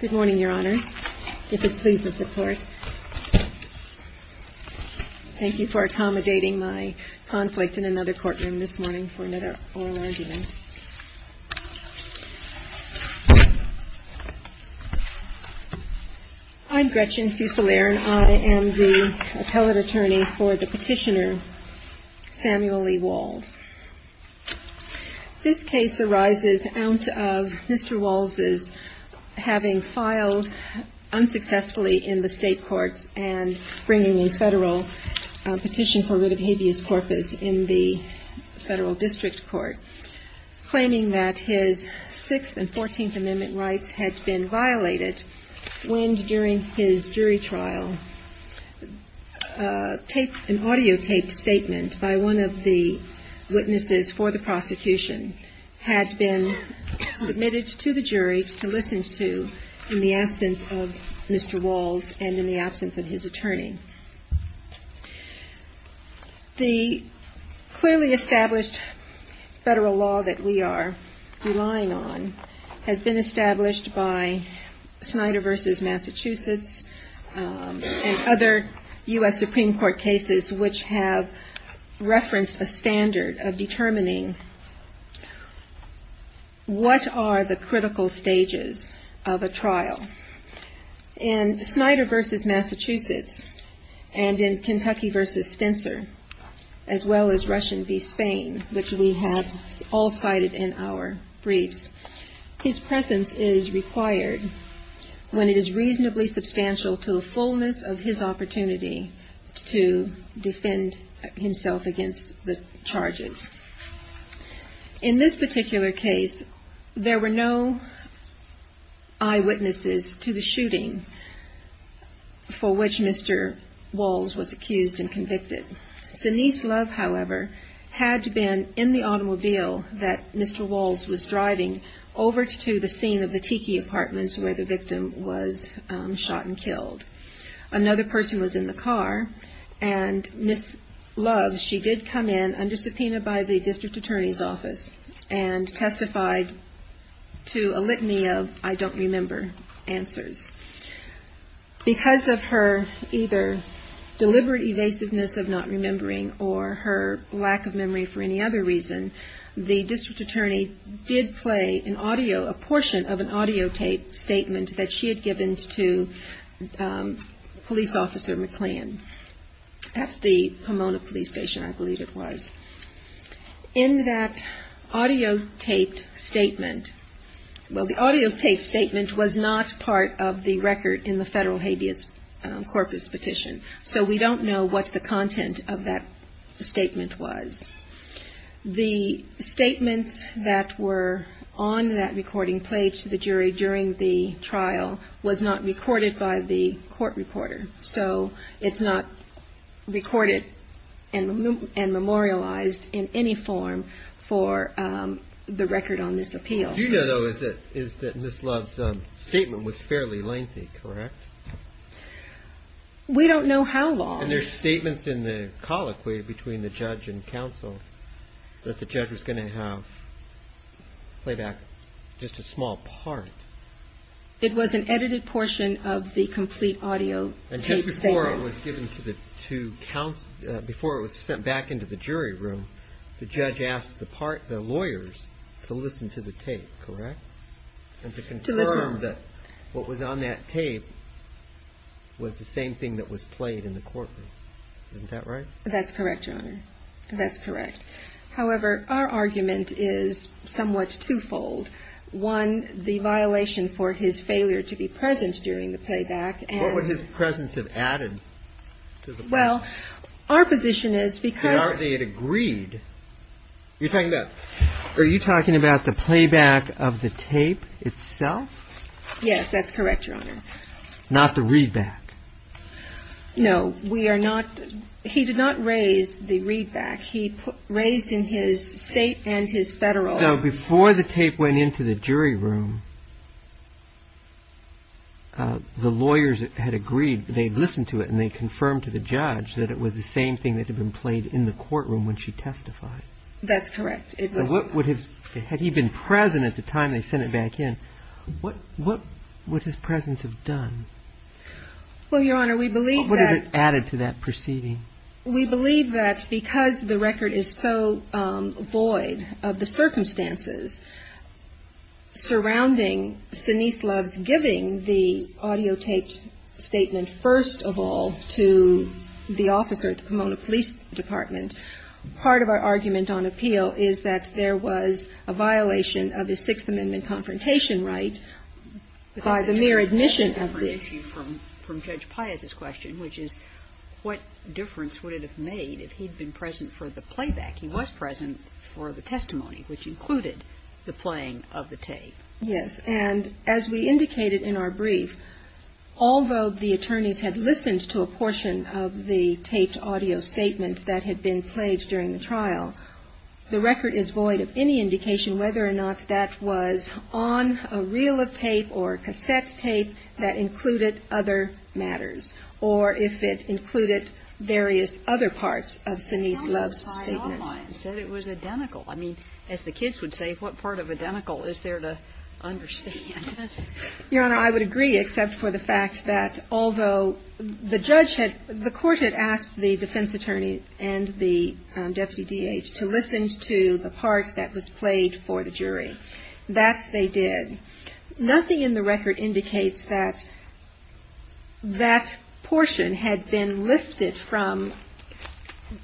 Good morning, Your Honors. If it pleases the Court, thank you for accommodating my conflict in another courtroom this morning for another oral argument. I'm Gretchen Fusilier, and I am the appellate attorney for the petitioner, Samuel E. WAULS. This case arises out of Mr. WAULS's having filed unsuccessfully in the State courts and bringing a Federal petition for writ of habeas corpus in the Federal District Court, claiming that his Sixth and Fourteenth Amendment rights had been violated when, during his jury trial, an audiotaped statement by one of the witnesses for the prosecution had been submitted to the jury to listen to in the absence of Mr. WAULS and in the absence of his attorney. The clearly established Federal law that we are relying on has been established by Snyder v. Massachusetts and other U.S. Supreme Court cases, which have referenced a standard of determining what are the critical stages of a trial. In Snyder v. Massachusetts and in Kentucky v. Stenser, as well as Russian v. Spain, which we have all cited in our briefs, his presence is required when it is reasonably substantial to the fullness of his opportunity to defend himself against the charges. In this particular case, there were no eyewitnesses to the shooting for which Mr. WAULS was accused and convicted. Sinise Love, however, had been in the automobile that Mr. WAULS was driving over to the scene of the Tiki apartments where the victim was shot and killed. Another person was in the car and Ms. Love, she did come in under subpoena by the District Attorney's Office and testified to a litany of I don't remember answers. Because of her either deliberate evasiveness of not remembering or her lack of memory for any other reason, the District Attorney did play an audio, a portion of an audio tape statement that she had given to Police Officer McLean at the Pomona Police Station, I believe it was. In that audio taped statement, well the audio taped statement was not part of the record in the federal habeas corpus petition. So we don't know what the content of that statement was. The statements that were on that recording played to the jury during the trial was not recorded by the court reporter. So it's not recorded and memorialized in any form for the record on this appeal. What you know though is that Ms. Love's statement was fairly lengthy, correct? We don't know how long. And there's statements in the colloquy between the judge and counsel that the judge was going to have playback, just a small part. It was an edited portion of the complete audio tape statement. And just before it was given to the two counsel, before it was sent back into the jury room, the judge asked the lawyers to listen to the tape, correct? To listen. And to confirm that what was on that tape was the same thing that was played in the courtroom. Isn't that right? That's correct, Your Honor. That's correct. However, our argument is somewhat two-fold. One, the violation for his failure to be present during the playback. What would his presence have added to the play? Well, our position is because... But aren't they agreed? You're talking about the playback of the tape itself? Yes, that's correct, Your Honor. Not the readback. No, we are not. He did not raise the readback. He raised in his state and his federal... So before the tape went into the jury room, the lawyers had agreed, they'd listened to it, and they confirmed to the judge that it was the same thing that had been played in the courtroom when she testified. That's correct. Had he been present at the time they sent it back in, what would his presence have done? Well, Your Honor, we believe that... What would it have added to that proceeding? We believe that because the record is so void of the circumstances surrounding Sinise Loves giving the audiotaped statement first of all to the officer at the Pomona Police Department, part of our argument on appeal is that there was a violation of his Sixth Amendment confrontation right by the mere admission of the... I have an issue from Judge Pius's question, which is what difference would it have made if he'd been present for the playback? He was present for the testimony, which included the playing of the tape. Yes. And as we indicated in our brief, although the attorneys had listened to a portion of the taped audio statement that had been played during the trial, the record is void of any indication whether or not that was on a reel of tape or cassette tape that included other matters, or if it included various other parts of Sinise Loves' statement. But how about the audio? You said it was identical. I mean, as the kids would say, what part of identical is there to understand? Your Honor, I would agree except for the fact that although the judge had, the court had asked the defense attorney and the deputy D.H. to listen to the part that was played for the jury. That they did. Nothing in the record indicates that that portion had been lifted from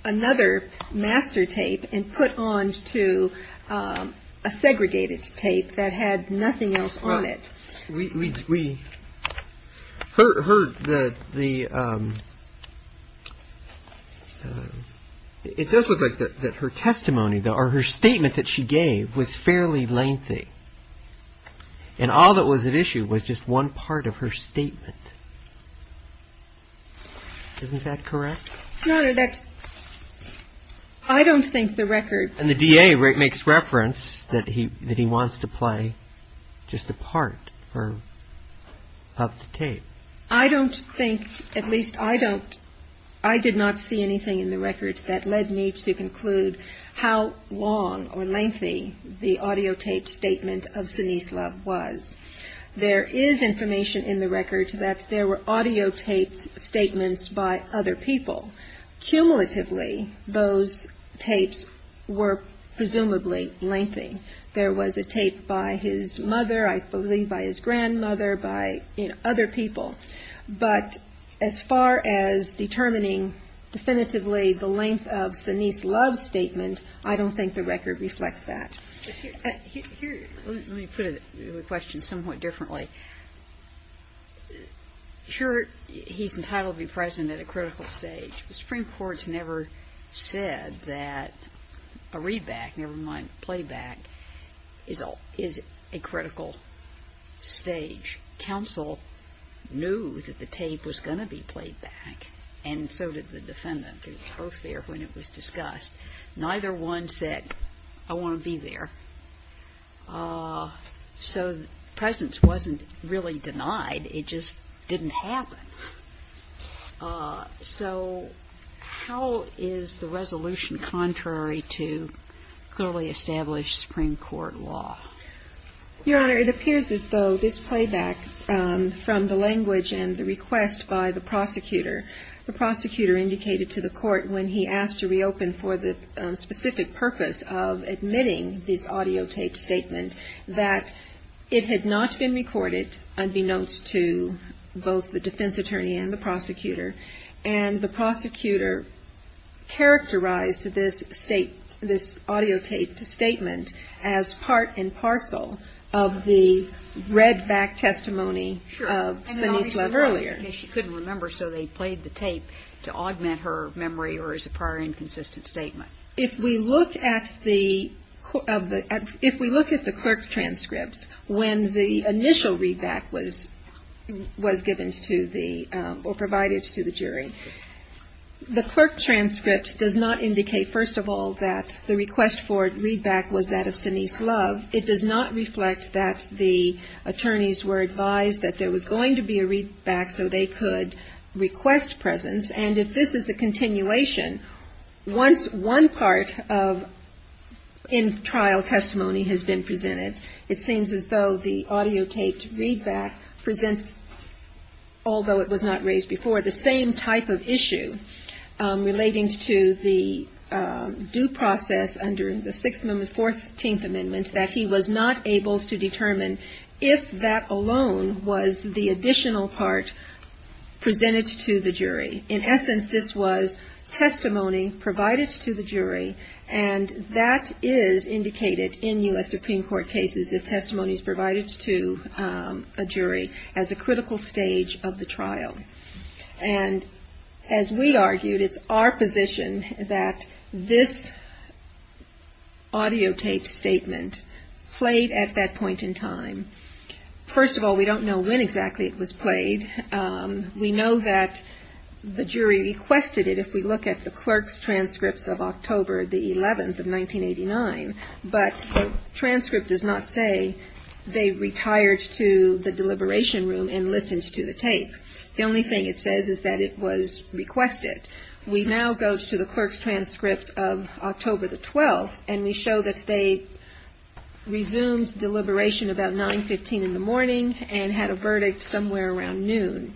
another master tape and put onto a segregated tape that had nothing else on it. We heard that the. It does look like that her testimony, though, or her statement that she gave was fairly lengthy. And all that was at issue was just one part of her statement. Isn't that correct? Your Honor, I don't think the record. And the D.A. makes reference that he wants to play just a part of the tape. I don't think, at least I don't, I did not see anything in the record that led me to conclude how long or lengthy the audio tape statement of Sinise Love was. There is information in the record that there were audio taped statements by other people. Cumulatively, those tapes were presumably lengthy. There was a tape by his mother, I believe by his grandmother, by other people. But as far as determining definitively the length of Sinise Love's statement, I don't think the record reflects that. Let me put the question somewhat differently. Sure, he's entitled to be present at a critical stage. The Supreme Court's never said that a readback, never mind playback, is a critical stage. Counsel knew that the tape was going to be played back, and so did the defendant. They were both there when it was discussed. Neither one said, I want to be there. So presence wasn't really denied. It just didn't happen. So how is the resolution contrary to clearly established Supreme Court law? Your Honor, it appears as though this playback from the language and the request by the prosecutor, the prosecutor indicated to the court when he asked to reopen for the specific purpose of admitting this audio taped statement, that it had not been recorded, unbeknownst to both the defense attorney and the prosecutor. And the prosecutor characterized this state, this audio taped statement, as part and parcel of the readback testimony of Sinise Love earlier. She couldn't remember, so they played the tape to augment her memory or as a prior inconsistent statement. If we look at the clerk's transcripts, when the initial readback was given to the, or provided to the jury, the clerk transcript does not indicate, first of all, that the request for readback was that of Sinise Love. It does not reflect that the attorneys were advised that there was going to be a readback so they could request presence. And if this is a continuation, once one part of in-trial testimony has been presented, it seems as though the audio taped readback presents, although it was not raised before, the same type of issue relating to the due process under the Sixth Amendment, Fourteenth Amendment, that he was not able to determine if that alone was the additional part presented to the jury. In essence, this was testimony provided to the jury, and that is indicated in U.S. Supreme Court cases, if testimony is provided to a jury, as a critical stage of the trial. And as we argued, it's our position that this audio taped statement played at that point in time. First of all, we don't know when exactly it was played. We know that the jury requested it if we look at the clerk's transcripts of October the 11th of 1989, but the transcript does not say they retired to the deliberation room and listened to the tape. The only thing it says is that it was requested. We now go to the clerk's transcripts of October the 12th, and we show that they resumed deliberation about 9.15 in the morning and had a verdict somewhere around noon.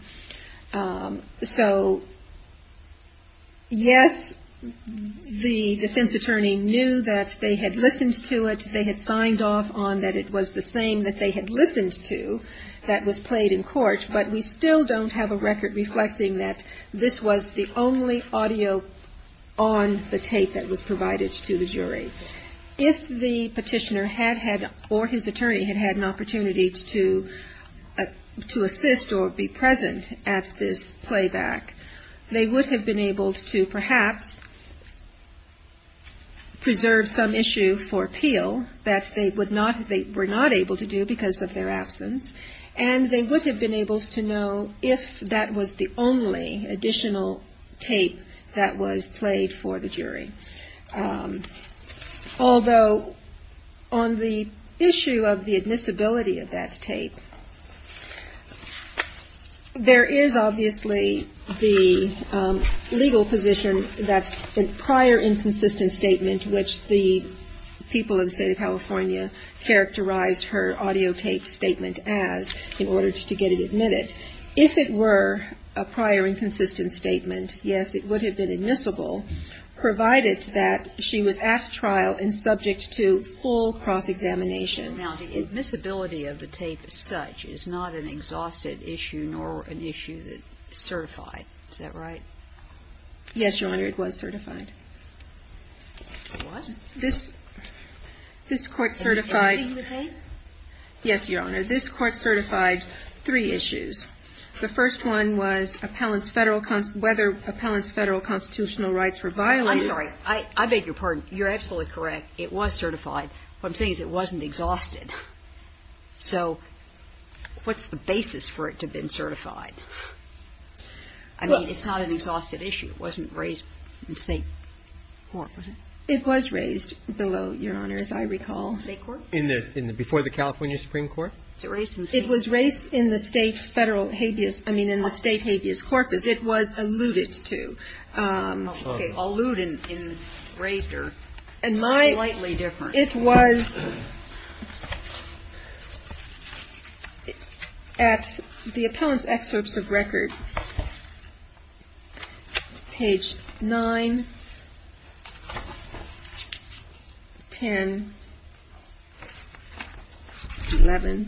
So, yes, the defense attorney knew that they had listened to it. They had signed off on that it was the same that they had listened to that was played in court, but we still don't have a record reflecting that this was the only audio on the tape that was provided to the jury. If the petitioner or his attorney had had an opportunity to assist or be present at this playback, they would have been able to perhaps preserve some issue for appeal that they were not able to do because of their absence, and they would have been able to know if that was the only additional tape that was played for the jury. Although on the issue of the admissibility of that tape, there is obviously the legal position that the prior inconsistent statement in which the people of the State of California characterized her audio tape statement as in order to get it admitted. If it were a prior inconsistent statement, yes, it would have been admissible, provided that she was at trial and subject to full cross-examination. Now, the admissibility of the tape as such is not an exhausted issue nor an issue that is certified. Is that right? Yes, Your Honor, it was certified. What? This Court certified. Everything in the tape? Yes, Your Honor. This Court certified three issues. The first one was whether appellants' Federal constitutional rights were violated. I'm sorry. I beg your pardon. You're absolutely correct. It was certified. What I'm saying is it wasn't exhausted. So what's the basis for it to have been certified? I mean, it's not an exhausted issue. It wasn't raised in State court, was it? It was raised below, Your Honor, as I recall. State court? Before the California Supreme Court? It was raised in the State federal habeas – I mean, in the State habeas corpus. It was alluded to. Okay. Alluded and raised are slightly different. It was at the appellant's excerpts of record, page 9, 10, 11.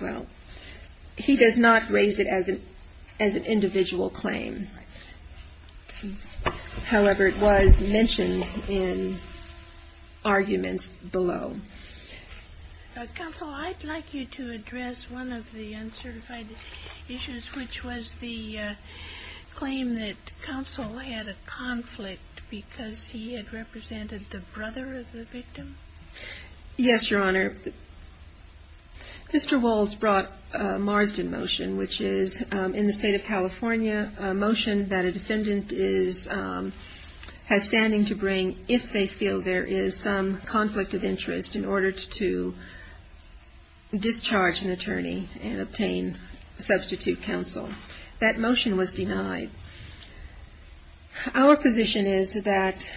Well, he does not raise it as an individual claim. However, it was mentioned in arguments below. Counsel, I'd like you to address one of the uncertified issues, which was the claim that counsel had a conflict Yes, Your Honor. Mr. Walz brought Marsden motion, which is in the State of California, a motion that a defendant is – has standing to bring if they feel there is some conflict of interest in order to discharge an attorney and obtain substitute counsel. That motion was denied. Our position is that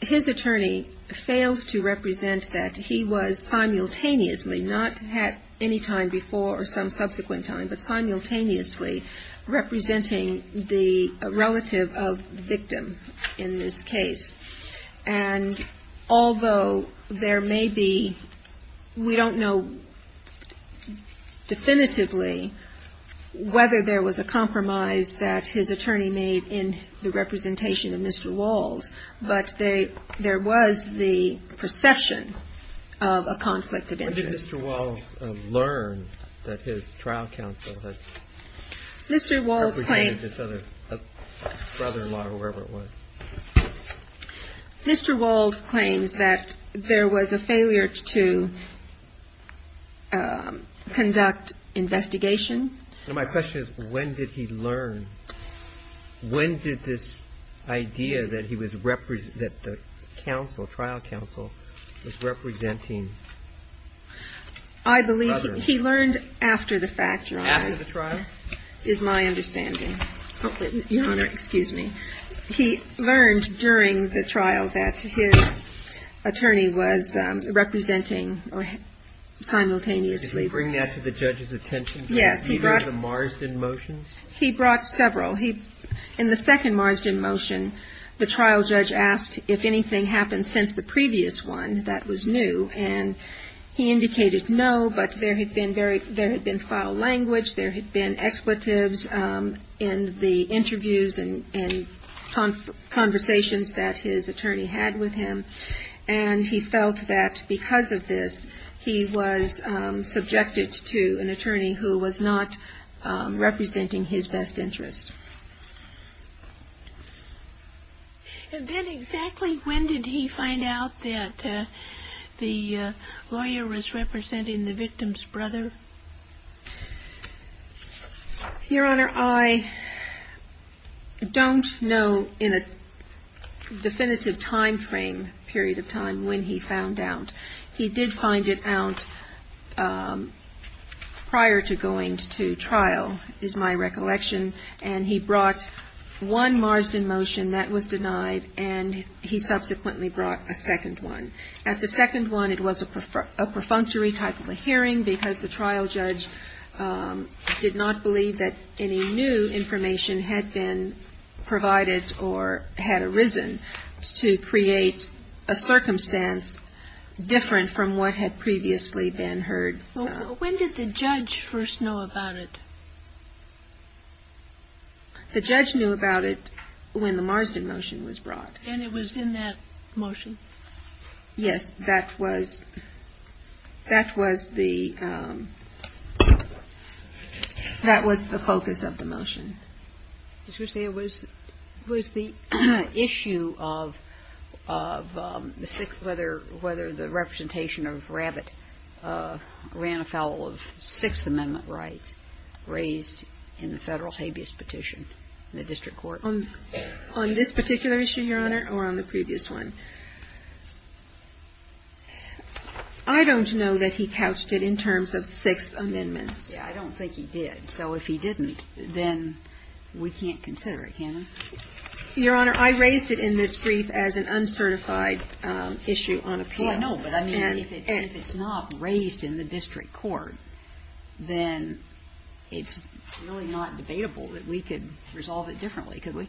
his attorney failed to represent that he was simultaneously, not at any time before or some subsequent time, but simultaneously representing the relative of the victim in this case. And although there may be – we don't know definitively whether there was a compromise that his attorney made in the representation of Mr. Walz, but there was the perception of a conflict of interest. When did Mr. Walz learn that his trial counsel had appreciated this other brother-in-law, whoever it was? Mr. Walz claims that there was a failure to conduct investigation. My question is, when did he learn? When did this idea that he was – that the counsel, trial counsel, was representing? I believe he learned after the fact, Your Honor. After the trial? Is my understanding. Your Honor, excuse me. He learned during the trial that his attorney was representing simultaneously. Did he bring that to the judge's attention? Yes. Did he bring the Marsden motions? He brought several. In the second Marsden motion, the trial judge asked if anything happened since the previous one that was new. And he indicated no, but there had been very – there had been foul language. There had been expletives in the interviews and conversations that his attorney had with him. And he felt that because of this, he was subjected to an attorney who was not representing his best interest. And then exactly when did he find out that the lawyer was representing the victim's brother? Your Honor, I don't know in a definitive timeframe, period of time, when he found out. He did find it out prior to going to trial, is my recollection. And he brought one Marsden motion that was denied, and he subsequently brought a second one. At the second one, it was a perfunctory type of a hearing because the trial judge did not believe that any new information had been provided or had arisen to create a circumstance different from what had previously been heard. When did the judge first know about it? The judge knew about it when the Marsden motion was brought. And it was in that motion? Yes. That was – that was the – that was the focus of the motion. Did you say it was the issue of whether the representation of Rabbit ran afoul of Sixth Amendment rights raised in the Federal habeas petition in the district court? On this particular issue, Your Honor, or on the previous one? I don't know that he couched it in terms of Sixth Amendment. I don't think he did. So if he didn't, then we can't consider it, can we? Your Honor, I raised it in this brief as an uncertified issue on appeal. Well, no, but I mean, if it's not raised in the district court, then it's really not debatable that we could resolve it differently, could we?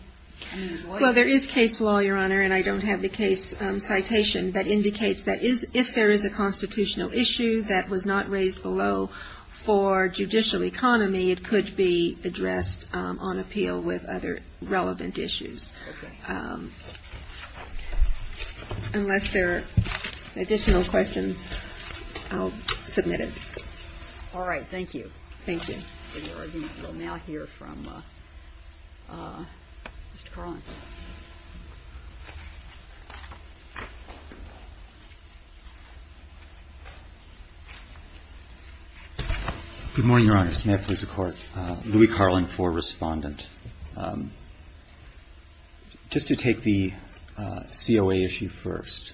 Well, there is case law, Your Honor, and I don't have the case citation that indicates that if there is a constitutional issue that was not raised below for judicial economy, it could be addressed on appeal with other relevant issues. Okay. Unless there are additional questions, I'll submit it. All right. Thank you. Thank you. We will now hear from Mr. Carlin. Good morning, Your Honors. May I please have the floor? Louis Carlin for Respondent. Just to take the COA issue first,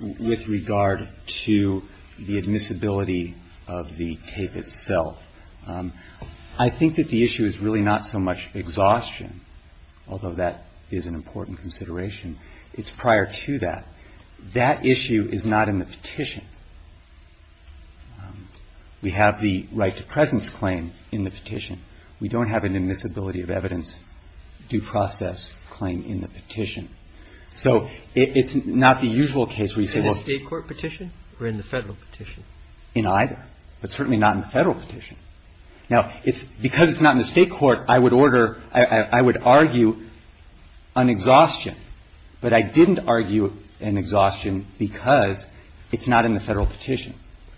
with regard to the admissibility of the tape itself, I think that the issue is really not so much exhaustion, although that is an important consideration, it's prior to that. That issue is not in the petition. We have the right to presence claim in the petition. We don't have an admissibility of evidence due process claim in the petition. So it's not the usual case where you say, well — In the state court petition or in the federal petition? In either, but certainly not in the federal petition. Now, because it's not in the state court, I would order — I would argue an exhaustion, but I didn't argue an exhaustion because it's not in the federal petition.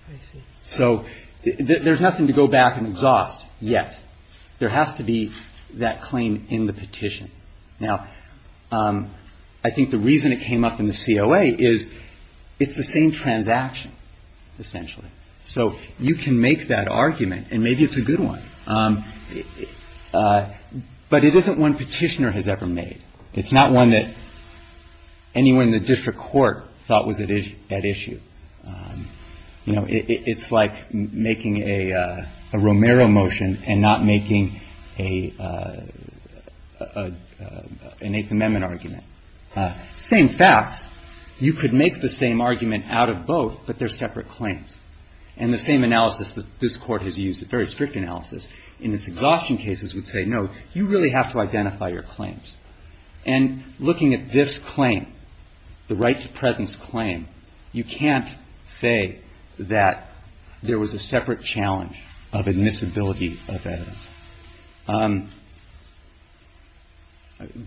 I see. So there's nothing to go back and exhaust yet. There has to be that claim in the petition. Now, I think the reason it came up in the COA is it's the same transaction, essentially. So you can make that argument, and maybe it's a good one, but it isn't one petitioner has ever made. It's not one that anyone in the district court thought was at issue. You know, it's like making a Romero motion and not making an Eighth Amendment argument. Same facts. You could make the same argument out of both, but they're separate claims. And the same analysis that this Court has used, a very strict analysis, in its exhaustion cases would say, no, you really have to identify your claims. And looking at this claim, the right-to-presence claim, you can't say that there was a separate challenge of admissibility of evidence.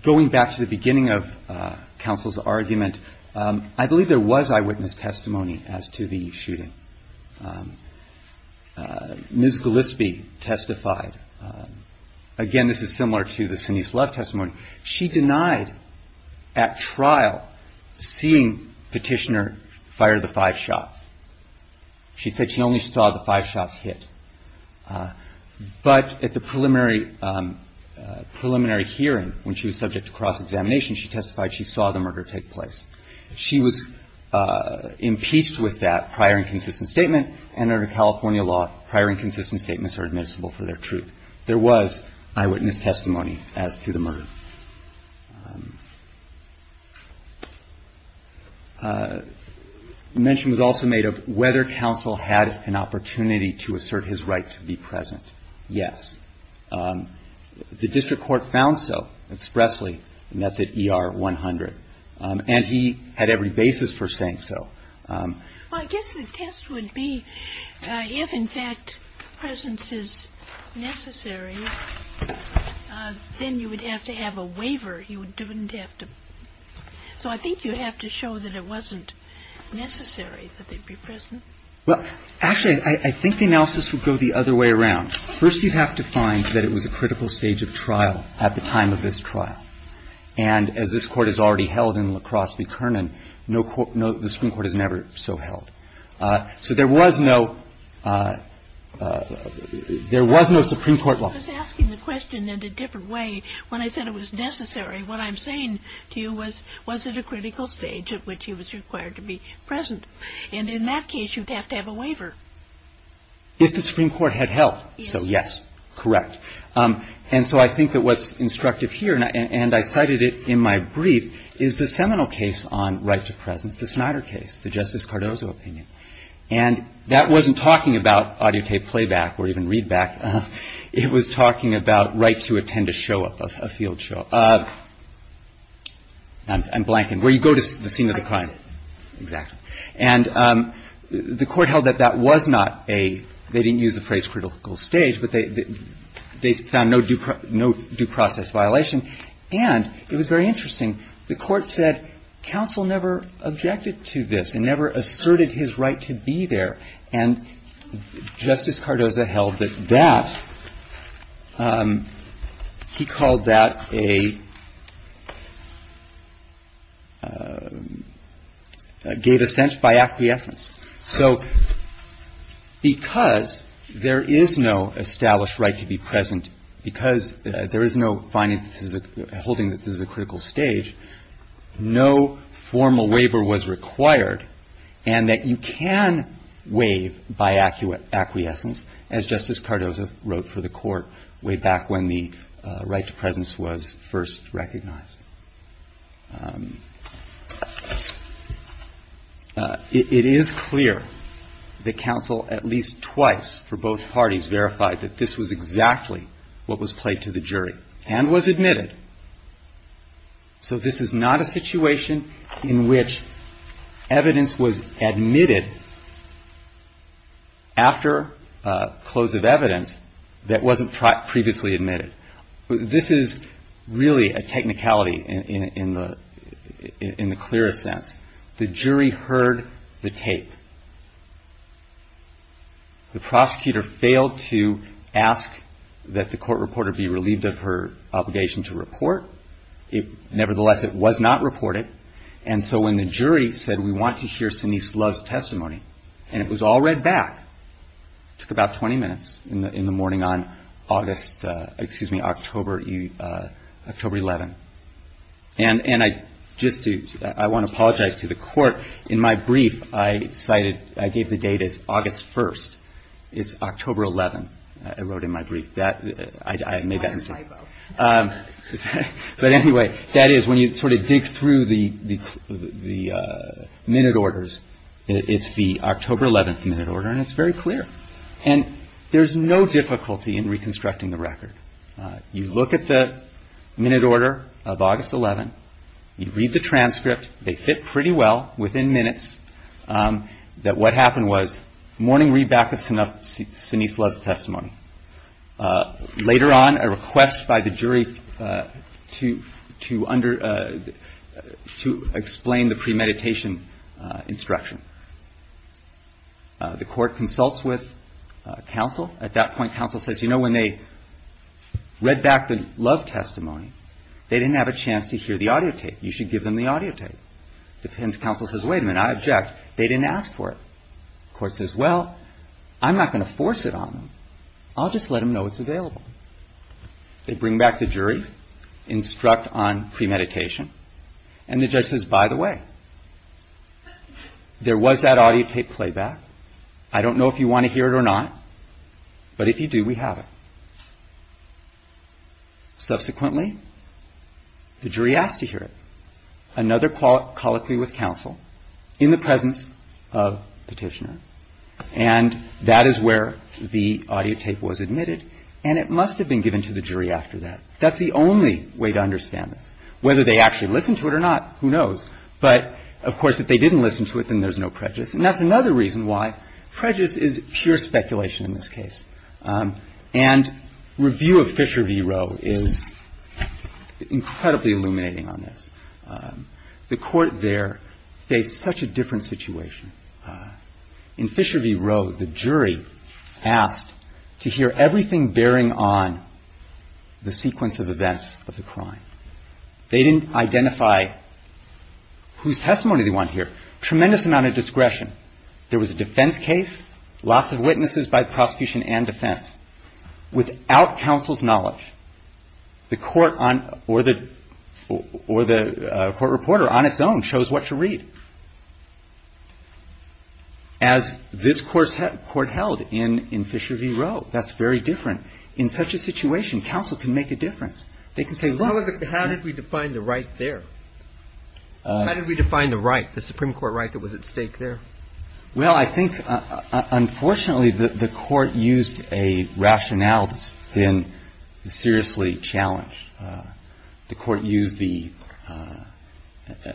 Going back to the beginning of counsel's argument, I believe there was eyewitness testimony as to the shooting. Ms. Gillespie testified. Again, this is similar to the Sinise Love testimony. She denied at trial seeing Petitioner fire the five shots. She said she only saw the five shots hit. But at the preliminary hearing, when she was subject to cross-examination, she testified she saw the murder take place. She was impeached with that prior inconsistent statement, and under California law, prior inconsistent statements are admissible for their truth. There was eyewitness testimony as to the murder. The mention was also made of whether counsel had an opportunity to assert his right to be present. Yes. The district court found so expressly, and that's at ER 100. And he had every basis for saying so. Well, I guess the test would be if, in fact, presence is necessary, then you would have to have an eyewitness testimony. If you have a waiver, you wouldn't have to. So I think you have to show that it wasn't necessary that they'd be present. Well, actually, I think the analysis would go the other way around. First, you'd have to find that it was a critical stage of trial at the time of this trial. And as this Court has already held in La Crosse v. Kernan, no court no – the Supreme Court has never so held. So there was no – there was no Supreme Court law. I was asking the question in a different way. When I said it was necessary, what I'm saying to you was, was it a critical stage at which he was required to be present? And in that case, you'd have to have a waiver. If the Supreme Court had held. So, yes, correct. And so I think that what's instructive here, and I cited it in my brief, is the seminal case on right to presence, the Snyder case, the Justice Cardozo opinion. And that wasn't talking about audio tape playback or even readback. It was talking about right to attend a show, a field show. I'm blanking. Where you go to the scene of the crime. Exactly. And the Court held that that was not a – they didn't use the phrase critical stage, but they found no due process violation. And it was very interesting. The Court said counsel never objected to this and never asserted his right to be there. And Justice Cardozo held that that – he called that a – gave a sense by acquiescence. So because there is no established right to be present, and because there is no finding that this is a critical stage, no formal waiver was required and that you can waive by acquiescence, as Justice Cardozo wrote for the Court way back when the right to presence was first recognized. It is clear that counsel at least twice for both parties verified that this was exactly what was played to the jury and was admitted. So this is not a situation in which evidence was admitted after close of evidence that wasn't previously admitted. This is really a technicality in the clearest sense. The jury heard the tape. The prosecutor failed to ask that the court reporter be relieved of her obligation to report. Nevertheless, it was not reported. And so when the jury said we want to hear Sinise Love's testimony, and it was all read back, it took about 20 minutes in the morning on August – excuse me, October 11th. And I just do – I want to apologize to the Court. In my brief, I cited – I gave the date as August 1st. It's October 11th, I wrote in my brief. I made that mistake. But anyway, that is when you sort of dig through the minute orders, it's the October 11th minute order, and it's very clear. And there's no difficulty in reconstructing the record. You look at the minute order of August 11th. You read the transcript. They fit pretty well within minutes that what happened was morning read back of Sinise Love's testimony. Later on, a request by the jury to explain the premeditation instruction. The court consults with counsel. At that point, counsel says, you know, when they read back the Love testimony, they didn't have a chance to hear the audio tape. You should give them the audio tape. The counsel says, wait a minute, I object. They didn't ask for it. The court says, well, I'm not going to force it on them. I'll just let them know it's available. They bring back the jury, instruct on premeditation, and the judge says, by the way, there was that audio tape playback. I don't know if you want to hear it or not, but if you do, we have it. Subsequently, the jury asked to hear it. Another colloquy with counsel in the presence of Petitioner. And that is where the audio tape was admitted. And it must have been given to the jury after that. That's the only way to understand this. Whether they actually listened to it or not, who knows. But, of course, if they didn't listen to it, then there's no prejudice. And that's another reason why prejudice is pure speculation in this case. And review of Fisher v. Roe is incredibly illuminating on this. The court there faced such a different situation. In Fisher v. Roe, the jury asked to hear everything bearing on the sequence of events of the crime. They didn't identify whose testimony they want to hear. Tremendous amount of discretion. There was a defense case, lots of witnesses by prosecution and defense. Without counsel's knowledge, the court or the court reporter on its own chose what to read. As this court held in Fisher v. Roe, that's very different. In such a situation, counsel can make a difference. They can say, look. How did we define the right there? How did we define the right, the Supreme Court right that was at stake there? Well, I think, unfortunately, the court used a rationale that's been seriously challenged. The court used the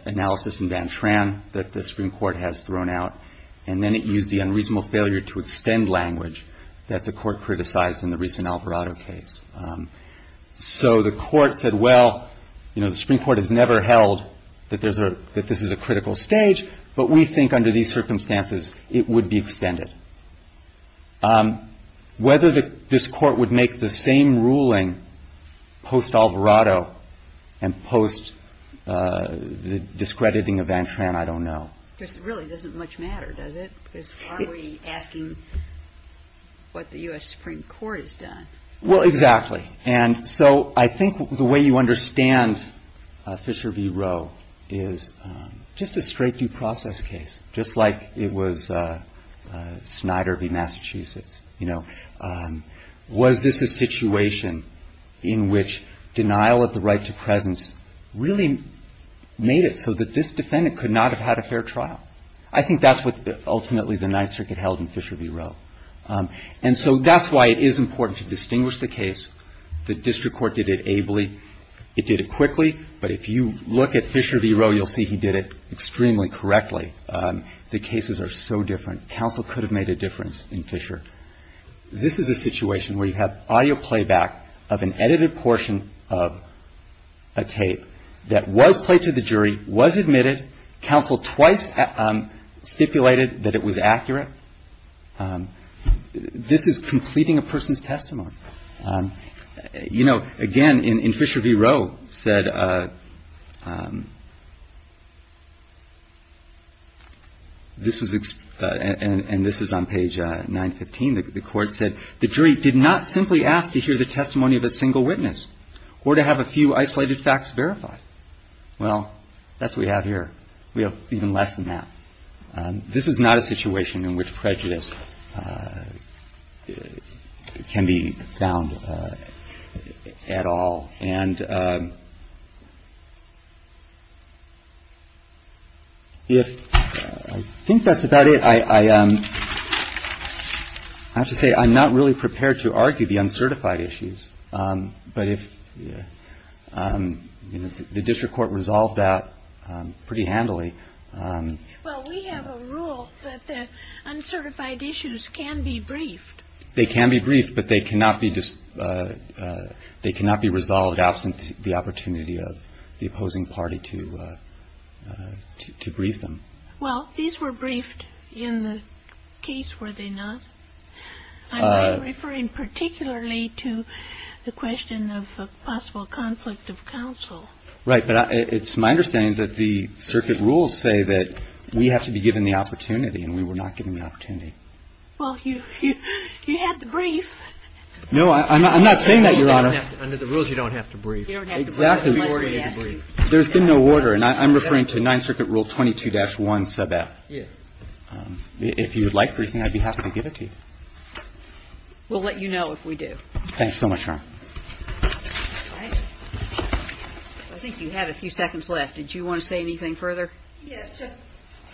analysis in Van Tran that the Supreme Court has thrown out. And then it used the unreasonable failure to extend language that the court criticized in the recent Alvarado case. So the court said, well, the Supreme Court has never held that this is a critical stage. But we think under these circumstances it would be extended. Whether this court would make the same ruling post-Alvarado and post the discrediting of Van Tran, I don't know. It really doesn't much matter, does it? Because are we asking what the U.S. Supreme Court has done? Well, exactly. And so I think the way you understand Fisher v. Roe is just a straight due process case, just like it was Snyder v. Massachusetts. Was this a situation in which denial of the right to presence really made it so that this defendant could not have had a fair trial? I think that's what ultimately the Ninth Circuit held in Fisher v. Roe. And so that's why it is important to distinguish the case. The district court did it ably. It did it quickly. But if you look at Fisher v. Roe, you'll see he did it extremely correctly. The cases are so different. Counsel could have made a difference in Fisher. This is a situation where you have audio playback of an edited portion of a tape that was played to the jury, was admitted. Counsel twice stipulated that it was accurate. This is completing a person's testimony. You know, again, in Fisher v. Roe said this was — and this is on page 915. The court said the jury did not simply ask to hear the testimony of a single witness or to have a few isolated facts verified. Well, that's what we have here. We have even less than that. This is not a situation in which prejudice can be found at all. And if — I think that's about it. I have to say I'm not really prepared to argue the uncertified issues. But if the district court resolved that pretty handily — I mean, it's a pretty simple rule that the uncertified issues can be briefed. They can be briefed, but they cannot be — they cannot be resolved absent the opportunity of the opposing party to — to brief them. Well, these were briefed in the case, were they not? I'm referring particularly to the question of a possible conflict of counsel. Right. But it's my understanding that the circuit rules say that we have to be given the opportunity, and we were not given the opportunity. Well, you have to brief. No, I'm not saying that, Your Honor. Under the rules, you don't have to brief. Exactly. There's been no order. And I'm referring to 9th Circuit Rule 22-1, sub F. Yes. If you would like briefing, I'd be happy to give it to you. We'll let you know if we do. Thanks so much, Your Honor. All right. I think you had a few seconds left. Did you want to say anything further? Yes, just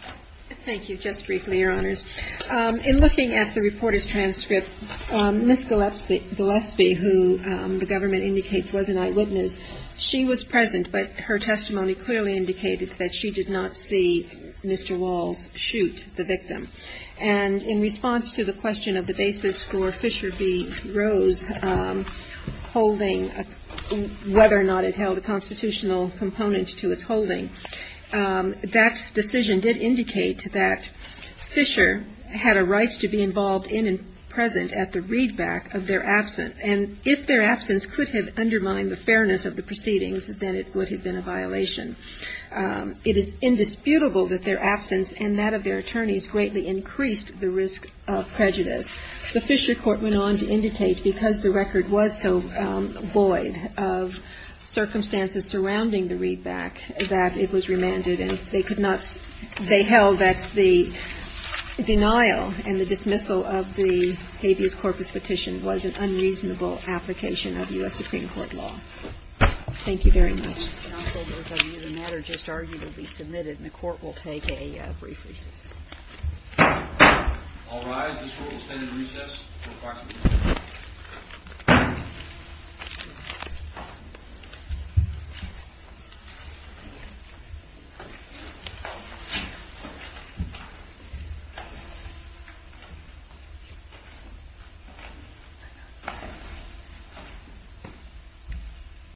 — thank you. Just briefly, Your Honors. In looking at the reporter's transcript, Ms. Gillespie, who the government indicates was an eyewitness, she was present, but her testimony clearly indicated that she did not see Mr. Walls shoot the victim. And in response to the question of the basis for Fisher v. Rose holding, whether or not it held a constitutional component to its holding, that decision did indicate that Fisher had a right to be involved in and present at the readback of their absence. And if their absence could have undermined the fairness of the proceedings, then it would have been a violation. It is indisputable that their absence and that of their attorneys greatly increased the risk of prejudice. The Fisher court went on to indicate, because the record was so void of circumstances surrounding the readback, that it was remanded, and they could not — they held that the denial and the dismissal of the habeas corpus petition was an unreasonable application of U.S. Supreme Court law. Thank you very much. Counsel, the matter just argued will be submitted, and the Court will take a brief recess. All rise. This court will stand at recess until 5 p.m.